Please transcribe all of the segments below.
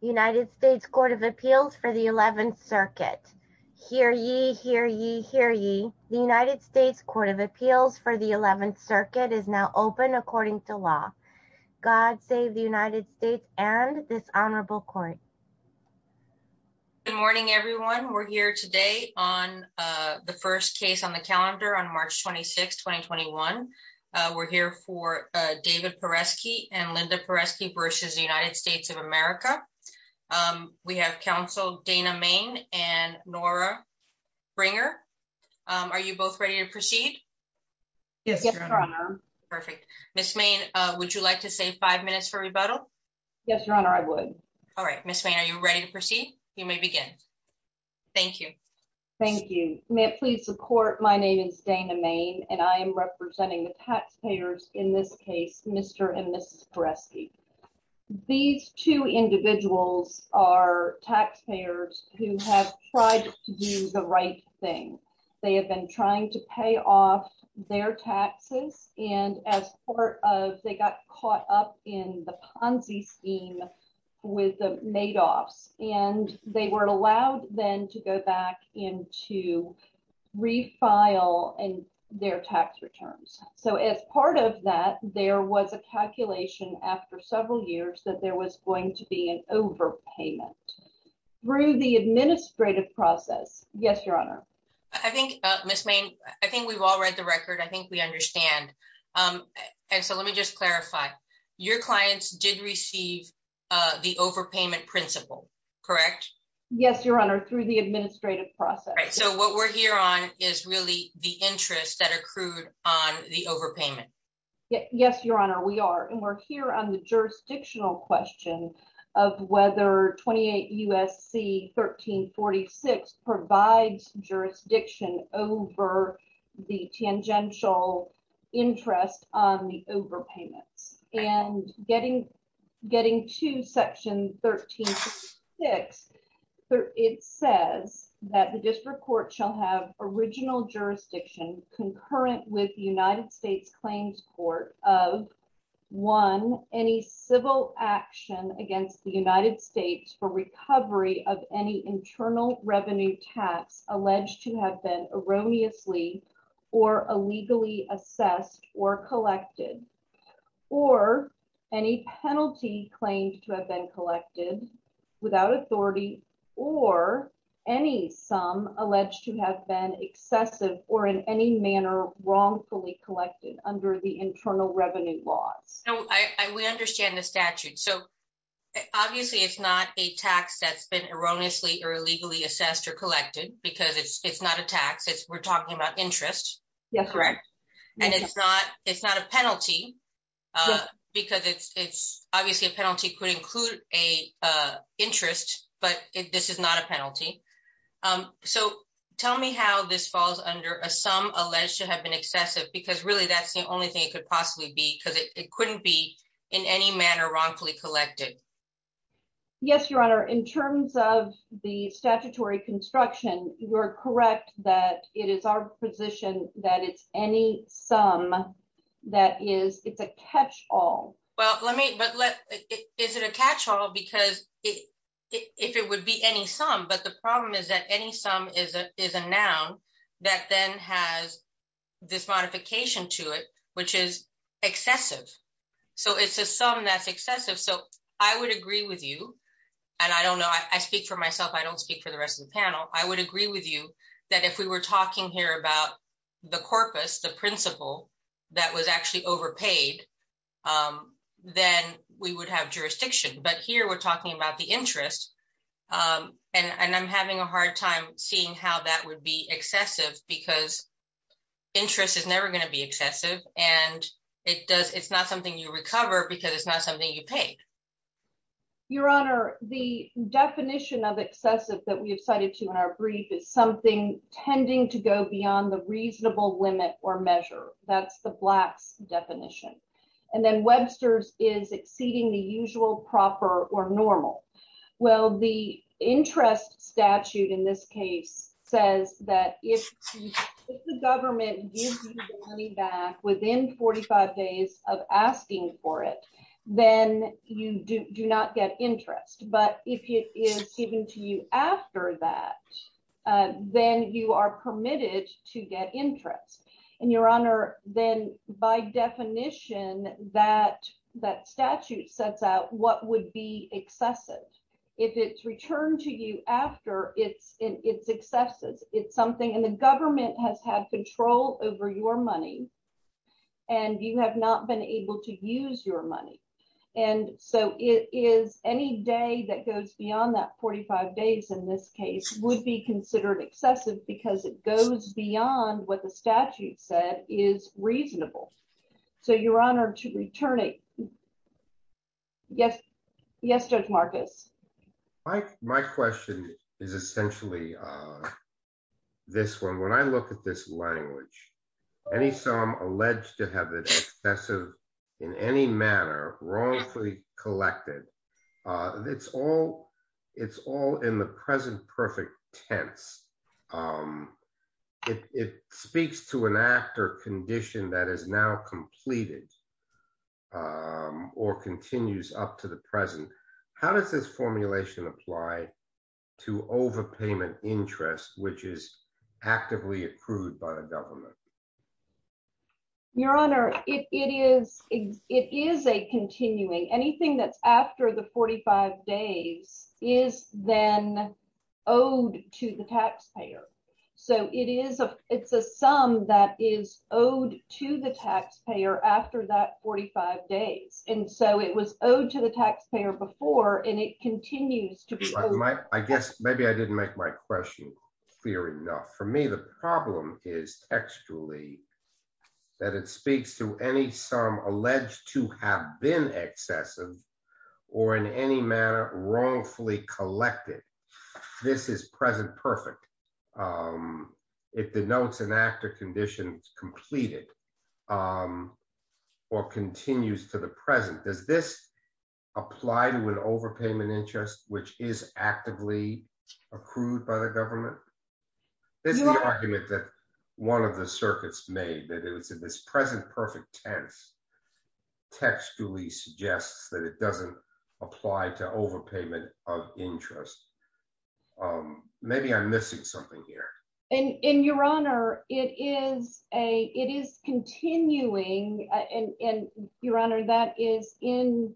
United States Court of Appeals for the 11th Circuit. Hear ye, hear ye, hear ye. The United States Court of Appeals for the 11th Circuit is now open according to law. God save the United States and this honorable court. Good morning everyone. We're here today on the first case on the calendar on March 26, 2021. We're here for David Paresky and Linda Paresky versus the United States of America. We have counsel Dana Main and Nora Bringer. Are you both ready to proceed? Yes, Your Honor. Perfect. Ms. Main, would you like to save five minutes for rebuttal? Yes, Your Honor, I would. All right. Ms. Main, are you ready to proceed? You may begin. Thank you. Thank you. May it please the court, my name is Dana Main and I am representing the taxpayers in this case, Mr. and Mrs. Paresky. These two individuals are taxpayers who have tried to do the right thing. They have been trying to pay off their taxes and as part of, they got caught up in the Ponzi scheme with the made-offs and they were allowed then to go back and to refile their tax returns. So as part of that, there was a calculation after several years that there was going to be an overpayment through the administrative process. Yes, Your Honor. I think, Ms. Main, I think we've all read the record. I think we understand. And so let me just clarify, your clients did receive the overpayment principle, correct? Yes, Your Honor, through the administrative process. So what we're here on is really the interest that accrued on the overpayment. Yes, Your Honor, we are. And we're here on the jurisdictional question of whether 28 U.S.C. 1346 provides jurisdiction over the tangential interest on the overpayments. And getting to Section 1346, it says that the district court shall have original jurisdiction concurrent with the United States Claims Court of, one, any civil action against the United States for recovery of any internal revenue tax alleged to have been erroneously or illegally assessed or collected, or any penalty claimed to have been collected without authority, or any sum alleged to have been excessive or in any manner wrongfully collected under the internal revenue laws. We understand the statute. So obviously, it's not a tax that's been erroneously or illegally assessed or collected, because it's not a tax. We're talking about interest. Yes, correct. And it's not it's not a penalty. Because it's obviously a penalty could include a interest, but this is not a penalty. So tell me how this falls under a sum alleged to have been excessive, because really, that's the only thing it could possibly be because it couldn't be in any manner wrongfully collected. Yes, Your Honor, in terms of the statutory construction, you're correct that it is our position that it's any sum that is it's a catch all. Well, let me but let it is it a catch all because if it would be any sum, but the problem is that any sum is a noun that then has this modification to it, which is excessive. So it's a sum that's excessive. So I would agree with you. And I don't know, I speak for myself, I don't speak for the panel, I would agree with you, that if we were talking here about the corpus, the principle, that was actually overpaid, then we would have jurisdiction. But here, we're talking about the interest. And I'm having a hard time seeing how that would be excessive, because interest is never going to be excessive. And it does, it's not something you recover, because it's not something you paid. Your Honor, the definition of excessive that we have cited to in our brief is something tending to go beyond the reasonable limit or measure. That's the blacks definition. And then Webster's is exceeding the usual proper or normal. Well, the interest statute in this case, says that if the government gives you money back within 45 days of asking for it, then you do not get interest. But if it is given to you after that, then you are permitted to get interest. And Your Honor, then by definition, that that statute sets out what would be excessive. If it's returned to you after it's in its excesses, it's something and the government has had control over your money. And you have not been able to use your money. And so it is any day that goes beyond that 45 days in this case would be considered excessive because it goes beyond what the statute said is reasonable. So Your Honor to return it. Yes. Yes, Judge Marcus. My question is essentially this one. When I look at this language, any sum alleged to have an excessive in any manner wrongfully collected, it's all in the present perfect tense. It speaks to an act or condition that is now completed. Or continues up to the present. How does this formulation apply to overpayment interest, which is actively approved by the government? Your Honor, it is it is a continuing anything that's after the 45 days is then owed to the taxpayer. So it is a it's a sum that is owed to the taxpayer after that 45 days. And so it was owed to the taxpayer before and it continues to be. I guess maybe I didn't make my question clear enough for me. The problem is actually that it speaks to any sum alleged to have been excessive or in any manner wrongfully collected. This is present perfect. Um, if the notes and actor conditions completed, or continues to the present, does this apply to an overpayment interest, which is actively approved by the government? This is the argument that one of the circuits made that it was in this present perfect tense, textually suggests that it doesn't apply to overpayment of interest. Um, maybe I'm missing something here. And in your honor, it is a it is continuing and your honor that is in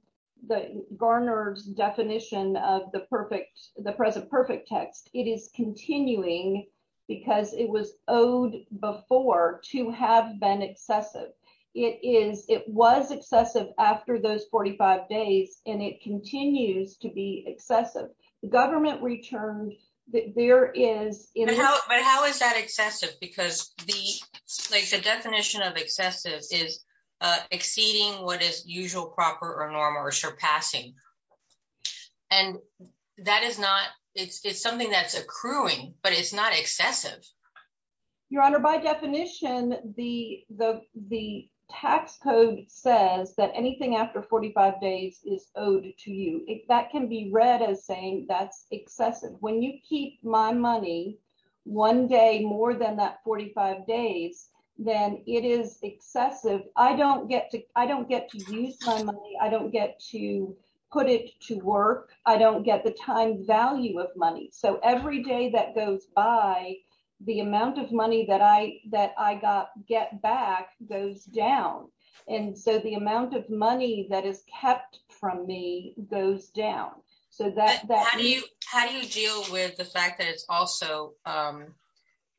the Garner's definition of the perfect the present perfect text, it is continuing because it was owed before to have been excessive. It is it was excessive after those 45 days, and it continues to be excessive government returned that there is in how is that excessive because the definition of excessive is exceeding what is usual proper or normal or surpassing. And that is not it's something that's accruing, but it's not excessive. Your Honor, by definition, the the the tax code says that anything after 45 days is owed to you, if that can be read as saying that's excessive when you keep my money, one day more than that 45 days, then it is excessive. I don't get to I don't get to use my money. I don't get to put it to work. I don't get the time value of money. So every day that goes by, the amount of money that I that I got get back goes down. And so the amount of money that is kept from me goes down. So that How do you how do you deal with the fact that it's also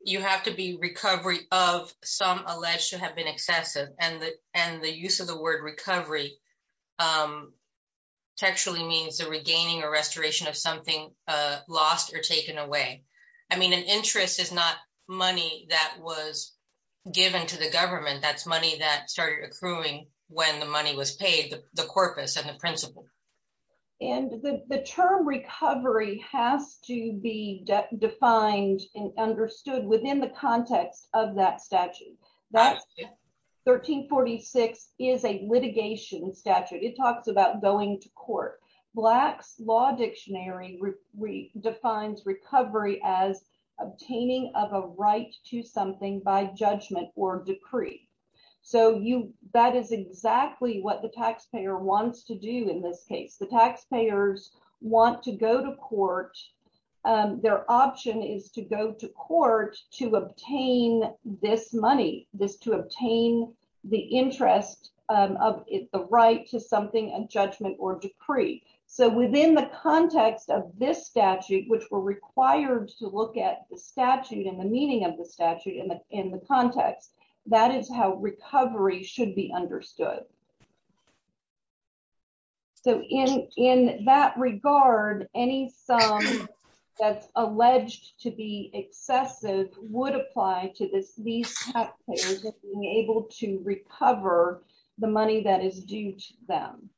you have to be recovery of some alleged to a restoration of something lost or taken away. I mean, an interest is not money that was given to the government. That's money that started accruing when the money was paid the corpus and the principle. And the term recovery has to be defined and understood within the context of that statute. That 1346 is a litigation statute, it talks about going to court, blacks law dictionary, defines recovery as obtaining of a right to something by judgment or decree. So you that is exactly what the taxpayer wants to do. In this case, the taxpayers want to go to court, their option is to go to court to obtain this money this to obtain the interest of the right to something and judgment or decree. So within the context of this statute, which were required to look at the statute and the meaning of the statute in the in the context. That is how recovery should be understood. So in in that regard, any sum that's alleged to be excessive would apply to this, these taxpayers being able to recover the money that is due to them.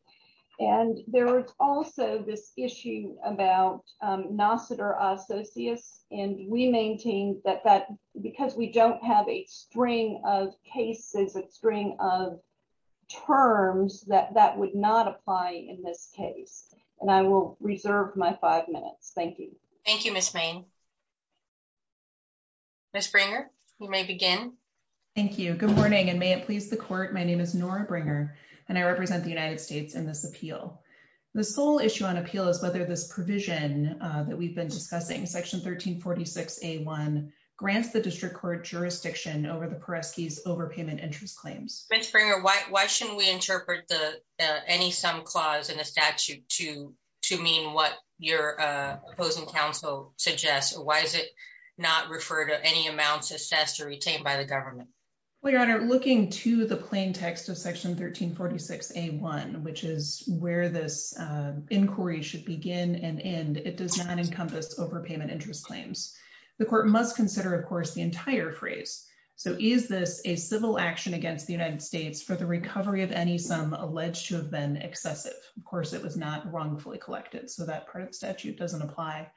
And there is also this issue about Nassiter Associates, and we maintain that that because we don't have a string of cases, a string of terms that that would not apply in this case. And I will reserve my five minutes. Thank you. Thank you, Ms. Bain. Ms. Bringer, you may begin. Thank you. Good morning, and may it please the court. My name is Nora Bringer, and I represent the United States in this appeal. The sole issue on appeal is whether this provision that we've been discussing section 1346. A one grants the district court jurisdiction over the Peresky's overpayment interest claims. Ms. Bringer, why why shouldn't we interpret the any sum clause in the statute to to mean what your opposing counsel suggests? Why is it not referred to any amounts assessed or retained by the government? We are looking to the plain text of section 1346. A one, which is where this inquiry should begin and end. It does not encompass overpayment interest claims. The court must consider, of course, the entire phrase. So is this a civil action against the United States for the recovery of any sum alleged to have been excessive? Of course, it was not wrongfully collected, so that part of the statute doesn't apply.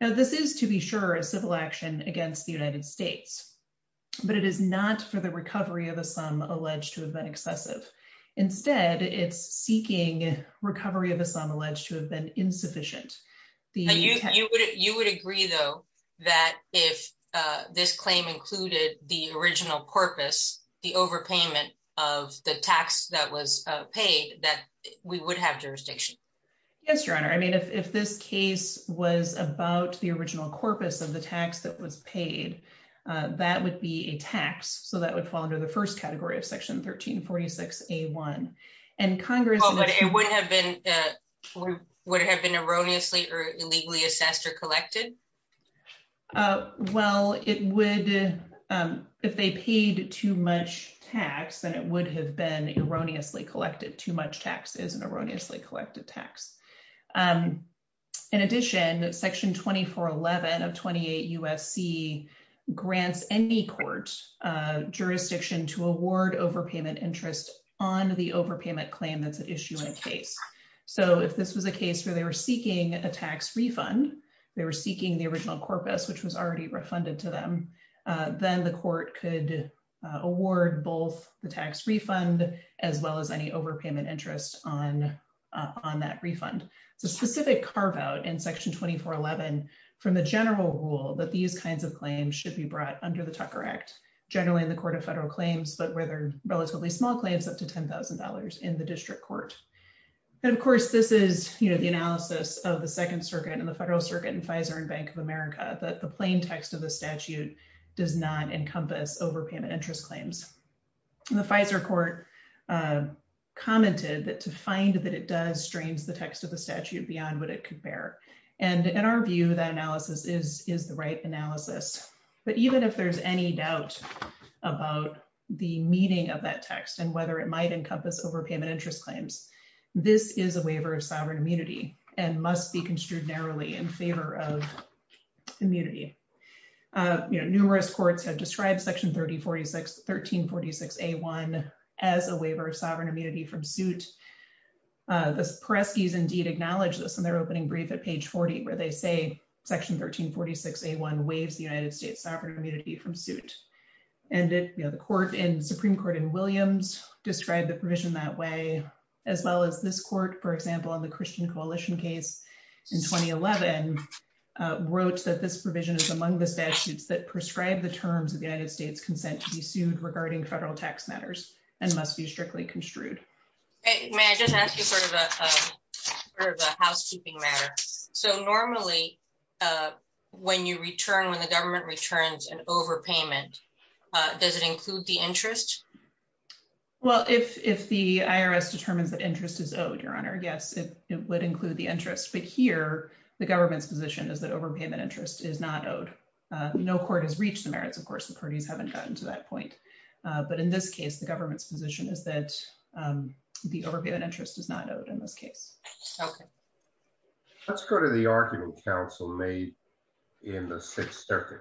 Now, this is, to be sure, a civil action against the United States, but it is not for the recovery of a sum alleged to have been excessive. Instead, it's seeking recovery of a sum alleged to have been insufficient. The you would you would agree, though, that if this claim included the original corpus, the overpayment of the tax that was paid, that we would have jurisdiction. Yes, your honor. I mean, if this case was about the original corpus of the tax that was paid, that would be a tax. So that would fall under the first category of section 1346. A one. And Congress would have been would have been erroneously or illegally assessed or collected. Well, it would if they paid too much tax, then it would have been erroneously collected too much taxes and erroneously collected tax. In addition, Section 2411 of 28 USC grants any court jurisdiction to award overpayment interest on the overpayment claim that's at issue in case. So if this was a case where they were seeking a tax refund, they were seeking the original corpus, which was already refunded to them, then the court could award both the tax refund as well as any overpayment interest on on that refund. It's a specific carve out in Section 2411 from the general rule that these kinds of claims should be brought under the Tucker Act, generally in the Court of Federal Claims, but where they're relatively small claims up to $10,000 in the district court. And of course, this is, you know, the analysis of the Second Circuit and the Federal Circuit and Pfizer and Bank of America that the plain text of the statute does not encompass overpayment interest claims. The Pfizer court commented that to find that it strains the text of the statute beyond what it could bear. And in our view, that analysis is the right analysis. But even if there's any doubt about the meaning of that text and whether it might encompass overpayment interest claims, this is a waiver of sovereign immunity and must be construed narrowly in favor of immunity. Numerous courts have described Section 1346A1 as a waiver of sovereign immunity from suit. The Peresky's indeed acknowledge this in their opening brief at page 40, where they say Section 1346A1 waives the United States sovereign immunity from suit. And the court in Supreme Court in Williams described the provision that way, as well as this court, for example, on the Christian Coalition case in 2011, wrote that this provision is among the statutes that prescribe the terms of the United States consent to be sued regarding federal tax matters and must be strictly construed. May I just ask you sort of a housekeeping matter. So normally, when you return, when the government returns an overpayment, does it include the interest? Well, if the IRS determines that interest is owed, Your Honor, yes, it would include the interest. But here, the government's position is that overpayment interest is not owed. No court has reached the merits. Of course, the parties haven't gotten to that point. But in this case, the government's position is that the overpayment interest is not owed in this case. Let's go to the argument counsel made in the Sixth Circuit,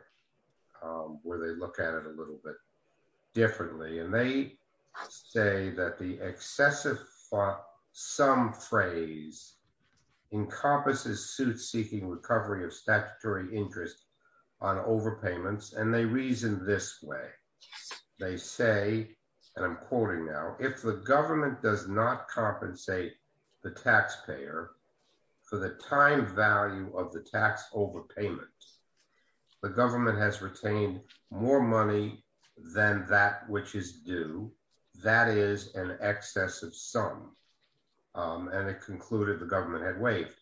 where they look at it a little bit differently. And they say that the excessive sum phrase encompasses suit seeking recovery of statutory interest on overpayments. And they reason this way. They say, and I'm quoting now, if the government does not compensate the taxpayer for the time value of the tax overpayment, the government has retained more money than that which is due. That is an excessive sum. And it concluded the government had waived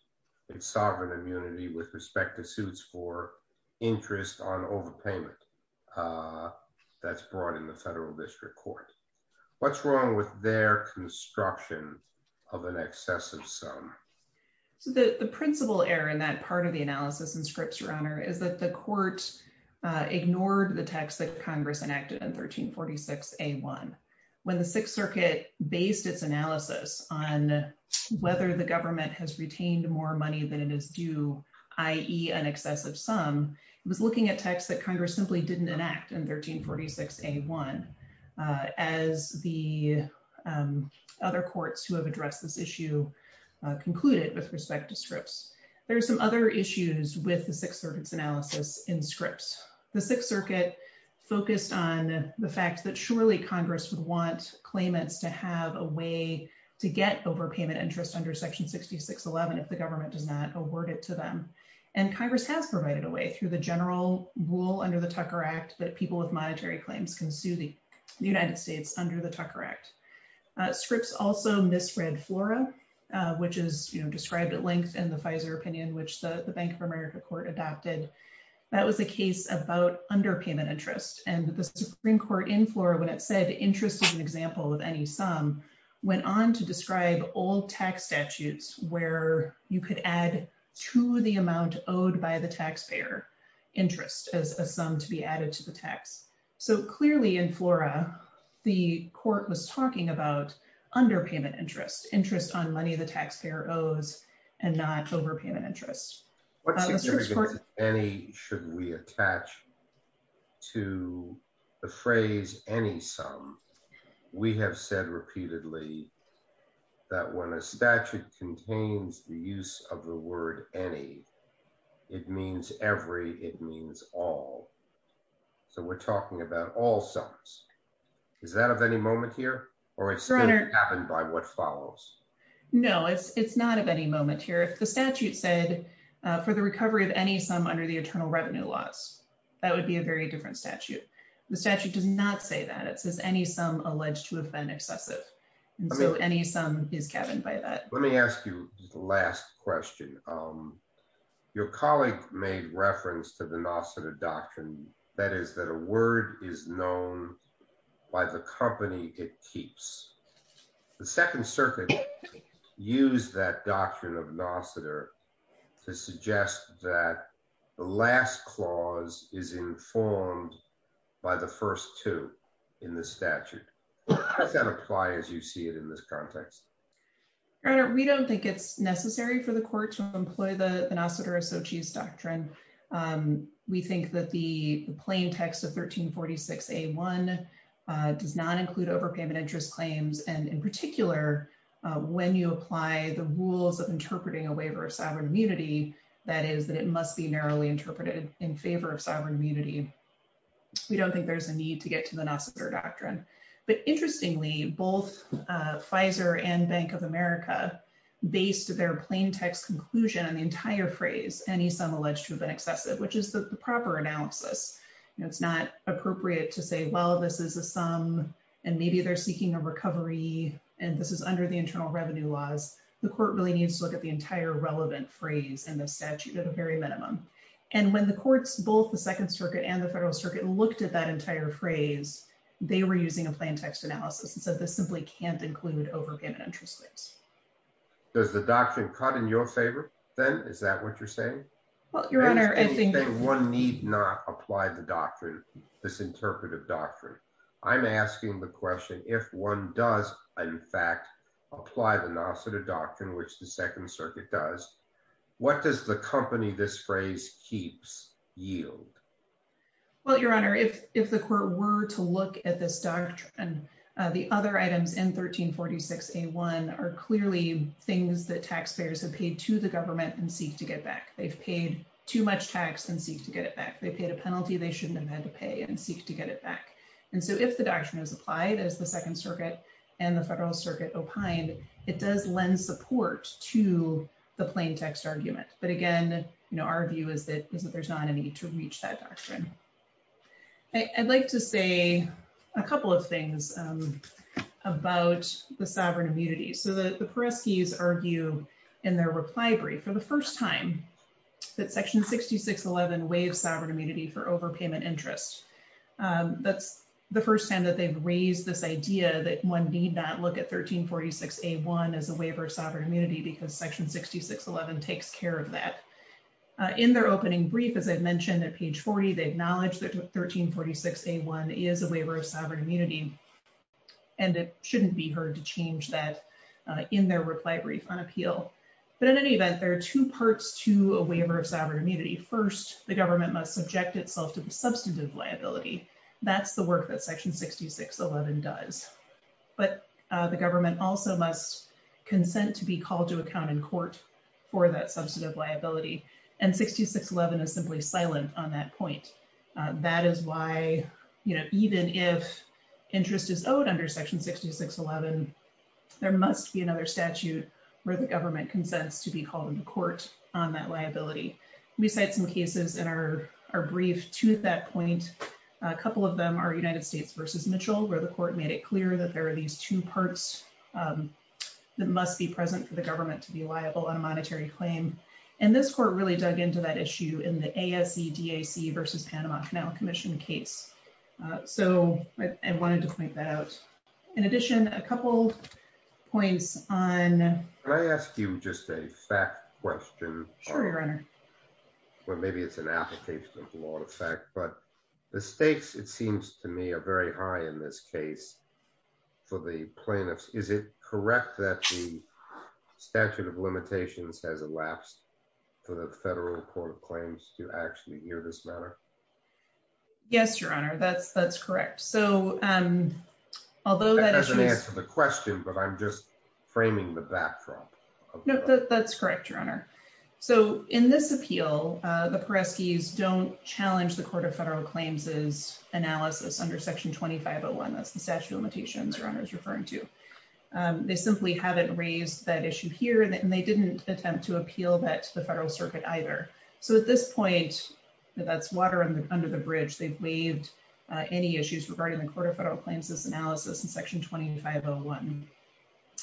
its sovereign immunity with respect to suits for interest on overpayment. That's brought in the federal district court. What's wrong with their construction of an excessive sum? So the principal error in that part of the analysis in Scripps, Your Honor, is that the court ignored the text that Congress enacted in 1346A1. When the Sixth Circuit based its analysis on whether the government has retained more money than it is due, i.e. an excessive sum, it was looking at texts that Congress simply didn't enact in 1346A1, as the other courts who have addressed this issue concluded with respect to Scripps. There are some other issues with the Sixth Circuit's analysis in Scripps. The Sixth Circuit focused on the fact that surely Congress would want claimants to have a way to get overpayment interest under Section 6611 if the government does not award it to them. And Congress has provided a way through the general rule under the Tucker Act that people with monetary claims can sue the United States under the Tucker Act. Scripps also misread FLORA, which is described at length in the court adopted. That was a case about underpayment interest. And the Supreme Court in FLORA, when it said interest is an example of any sum, went on to describe old tax statutes where you could add to the amount owed by the taxpayer interest as a sum to be added to the tax. So clearly in FLORA, the court was talking about underpayment interest, interest on money the any should we attach to the phrase any sum. We have said repeatedly that when a statute contains the use of the word any, it means every, it means all. So we're talking about all sums. Is that of any moment here? Or it's happened by what follows? No, it's not of any moment here. If the statute said for the recovery of any sum under the eternal revenue laws, that would be a very different statute. The statute does not say that. It says any sum alleged to have been excessive. And so any sum is cabined by that. Let me ask you the last question. Your colleague made reference to the Nasseta doctrine, that is that a word is known by the company it keeps. The Second Circuit used that doctrine of Nasseta to suggest that the last clause is informed by the first two in the statute. How does that apply as you see it in this context? Your Honor, we don't think it's necessary for the court to employ the Nasseta Sochi's doctrine. We think that the plain text of 1346A1 does not include overpayment interest claims. And in particular, when you apply the rules of interpreting a waiver of sovereign immunity, that is that it must be narrowly interpreted in favor of sovereign immunity. We don't think there's a need to get to the Nasseta doctrine. But interestingly, both Pfizer and Bank of America based their plain text conclusion on the entire phrase, any sum alleged to have been excessive, which is the proper analysis. It's not appropriate to say, well, this is a sum, and maybe they're seeking a recovery, and this is under the internal revenue laws. The court really needs to look at the entire relevant phrase in the statute at a very minimum. And when the courts, both the Second Circuit and the Federal Circuit looked at that entire phrase, they were using a plain text analysis and said, this simply can't include overpayment interest claims. Does the doctrine cut in your favor, then? Is that what you're saying? Well, Your Honor, I think that one need not apply the doctrine, this interpretive doctrine. I'm asking the question, if one does, in fact, apply the Nasseta doctrine, which the Second Circuit does, what does the company this phrase keeps yield? Well, Your Honor, if the court were to look at this doctrine, the other items in 1346A1 are clearly things that taxpayers have paid to the government and seek to get back. They've paid too much tax and seek to get it back. They paid a penalty they shouldn't have had to pay and seek to get it back. And so if the doctrine is applied as the Second Circuit and the Federal Circuit opined, it does lend support to the plain text argument. But again, our view is that there's not to reach that doctrine. I'd like to say a couple of things about the sovereign immunity. So the Pereskis argue in their reply brief for the first time that Section 6611 waives sovereign immunity for overpayment interest. That's the first time that they've raised this idea that one need not look at 1346A1 as a waiver of sovereign immunity because Section 6611 takes care of that. In their opening brief, as I mentioned at page 40, they acknowledge that 1346A1 is a waiver of sovereign immunity. And it shouldn't be heard to change that in their reply brief on appeal. But in any event, there are two parts to a waiver of sovereign immunity. First, the government must subject itself to the substantive liability. That's the work that Section 6611 does. But the government also must consent to be called to account in court for that substantive liability. And 6611 is simply silent on that point. That is why, you know, even if interest is owed under Section 6611, there must be another statute where the government consents to be called into court on that liability. We cite some cases in our brief to that point. A couple of them are United States v. Mitchell, where the court made it clear that there are these two parts that must be present for the government to be liable on a monetary claim. And this court really dug into that issue in the ASCDAC v. Panama Canal Commission case. So I wanted to point that out. In addition, a couple points on... Can I ask you just a fact question? Sure, Your Honor. Well, maybe it's an application of law in effect, but the stakes, it seems to me, are very high in this case for the plaintiffs. Is it correct that the statute of limitations has elapsed for the federal court of claims to actually hear this matter? Yes, Your Honor, that's correct. So although that doesn't answer the question, but I'm just framing the backdrop. No, that's correct, Your Honor. So in this appeal, the Pereskis don't challenge the court of federal claims' analysis under Section 2501. That's the statute of limitations Your Honor is referring to. They simply haven't raised that issue here, and they didn't attempt to appeal that to the federal circuit either. So at this point, that's water under the bridge. They've waived any issues regarding the court of federal claims' analysis in Section 2501.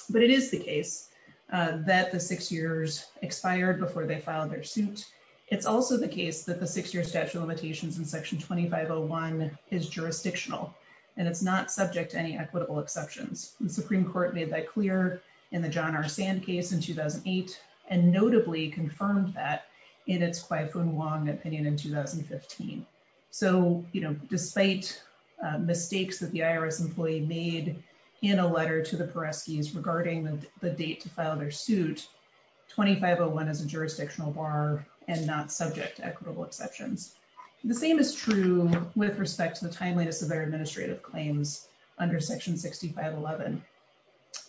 But it is the case that the six years expired before they filed their suit, it's also the case that the six-year statute of limitations in Section 2501 is jurisdictional, and it's not subject to any equitable exceptions. The Supreme Court made that clear in the John R. Sand case in 2008, and notably confirmed that in its Kwai Foon Wong opinion in 2015. So, you know, despite mistakes that the IRS employee made in a letter to the Pereskis regarding the date to file their suit, 2501 is a jurisdictional bar and not subject to equitable exceptions. The same is true with respect to the timeliness of their administrative claims under Section 6511.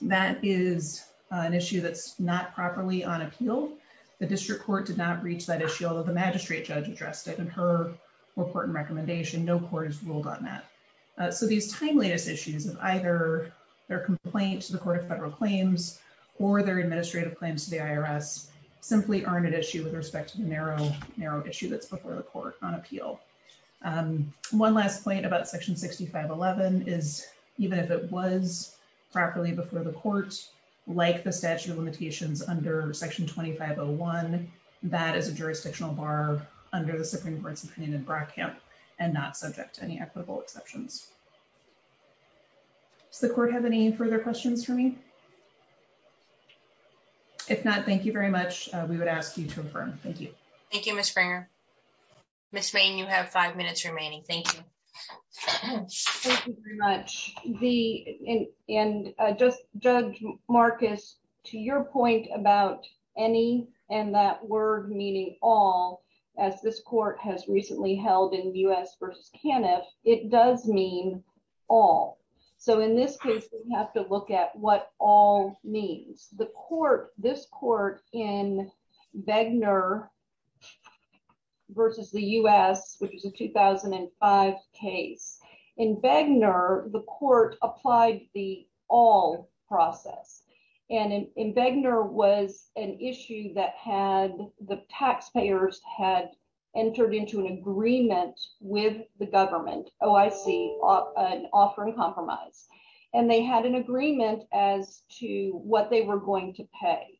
That is an issue that's not properly on appeal. The district court did not reach that issue, although the magistrate judge addressed it in her report and recommendation. No court has ruled on that. So these timeliness issues of either their complaint to the court of federal claims, or their administrative claims to the IRS simply aren't an issue with respect to the narrow issue that's before the court on appeal. One last point about Section 6511 is even if it was properly before the court, like the statute of limitations under Section 2501, that is a jurisdictional bar under the Supreme Court's opinion in Brockamp and not subject to any equitable exceptions. Does the court have any further questions for me? If not, thank you very much. We would ask you to confirm. Thank you. Thank you, Ms. Springer. Ms. Mayne, you have five minutes remaining. Thank you. Thank you very much. And Judge Marcus, to your point about any and that word meaning all, as this court has recently held in Bues v. Caniff, it does mean all. So in this case, we have to look at what all means. The court, this court in Begner v. the U.S., which is a 2005 case, in Begner, the court applied the all process. And in Begner was an issue that had the taxpayers had entered into an agreement with the government. Oh, I see an offering compromise. And they had an agreement as to what they were going to pay.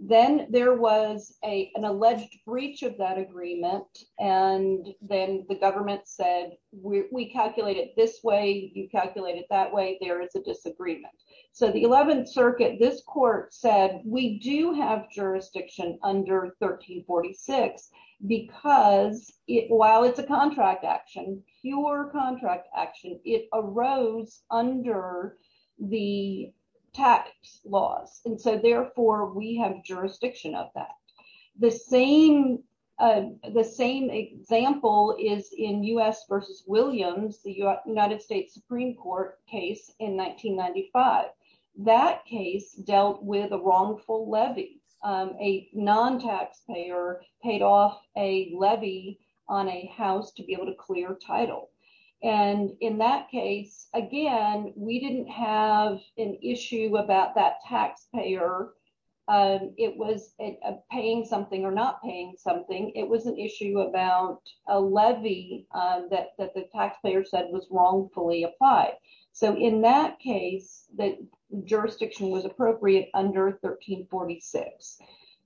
Then there was an alleged breach of that agreement. And then the government said, we calculate it this way, you calculate it that way. There is a disagreement. So the 11th Circuit, this court said, we do have jurisdiction under 1346. Because it while it's a contract action, pure contract action, it arose under the tax laws. And so therefore, we have jurisdiction of that. The same, the same example is in U.S. v. Williams, the United States Supreme Court case in 1995. That case dealt with a wrongful levy, a non taxpayer paid off a levy on a house to be able to clear title. And in that case, again, we didn't have an issue about that taxpayer. It was paying something or not paying something. It was an issue about a levy that the taxpayer said was wrongfully applied. So in that case, the jurisdiction was appropriate under 1346.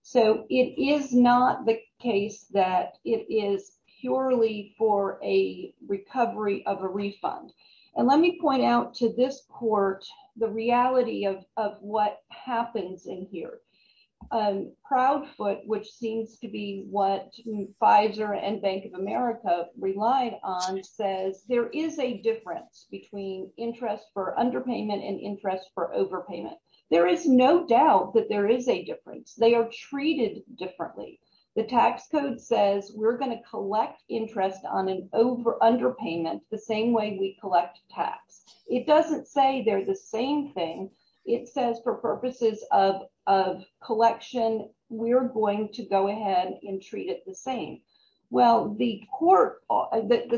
So it is not the case that it is purely for a recovery of a refund. And let me point out to this court, the reality of what happens in here. Proudfoot, which seems to be what Pfizer and Bank of America relied on says there is a difference between interest for underpayment and interest for overpayment. There is no doubt that there is a difference. They are treated differently. The tax code says we're going to collect interest on an over underpayment the same way we collect tax. It doesn't say they're the same thing. It says for purposes of collection, we're going to go ahead and treat it the same. Well, the court that the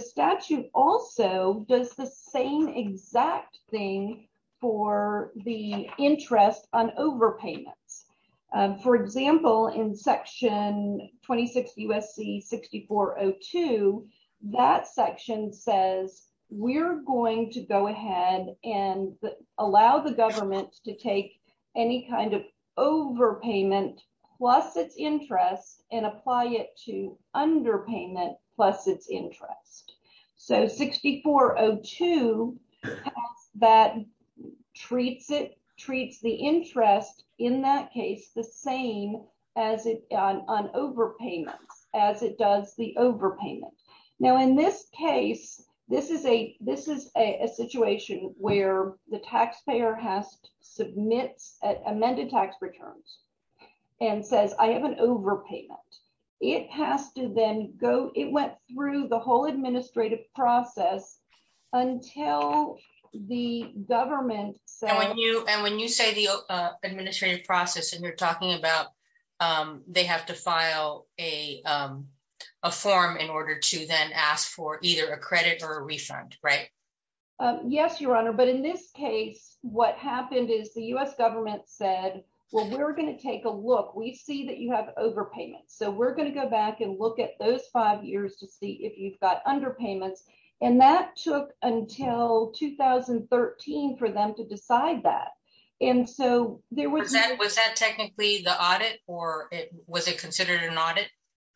exact thing for the interest on overpayments, for example, in Section 26 U.S.C. 6402, that section says we're going to go ahead and allow the government to take any kind of overpayment plus its interest and apply it to underpayment plus its interest. So 6402, that treats it, treats the interest in that case the same as it on overpayments, as it does the overpayment. Now, in this case, this is a situation where the taxpayer has to submit amended tax returns and says, I have an overpayment. It has to then go. It went through the whole administrative process until the government said when you and when you say the administrative process and you're talking about they have to file a a form in order to then ask for either a credit or a refund. Right. Yes, Your Honor. But in this case, what happened is the U.S. government said, well, we're going to take a look. We see that you have overpayments, so we're going to go back and look at those five years to see if you've got underpayments. And that took until 2013 for them to decide that. And so there was that was that technically the audit or was it considered an audit?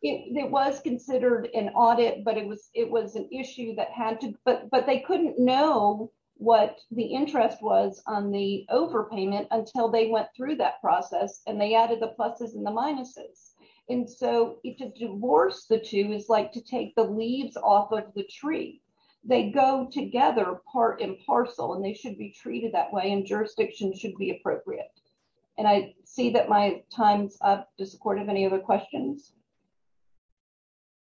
It was considered an audit, but it was it was an issue that had to but but they couldn't know what the interest was on the overpayment until they went through that process and they added the pluses and the minuses. And so it just divorced the two is like to take the leaves off of the tree. They go together, part and parcel, and they should be treated that way. And jurisdiction should be appropriate. And I see that my time's up to have any other questions.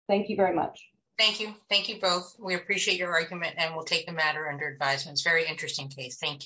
Thank you very much. Thank you. Thank you both. We appreciate your argument and we'll take the matter under advisement. Very interesting case. Thank you.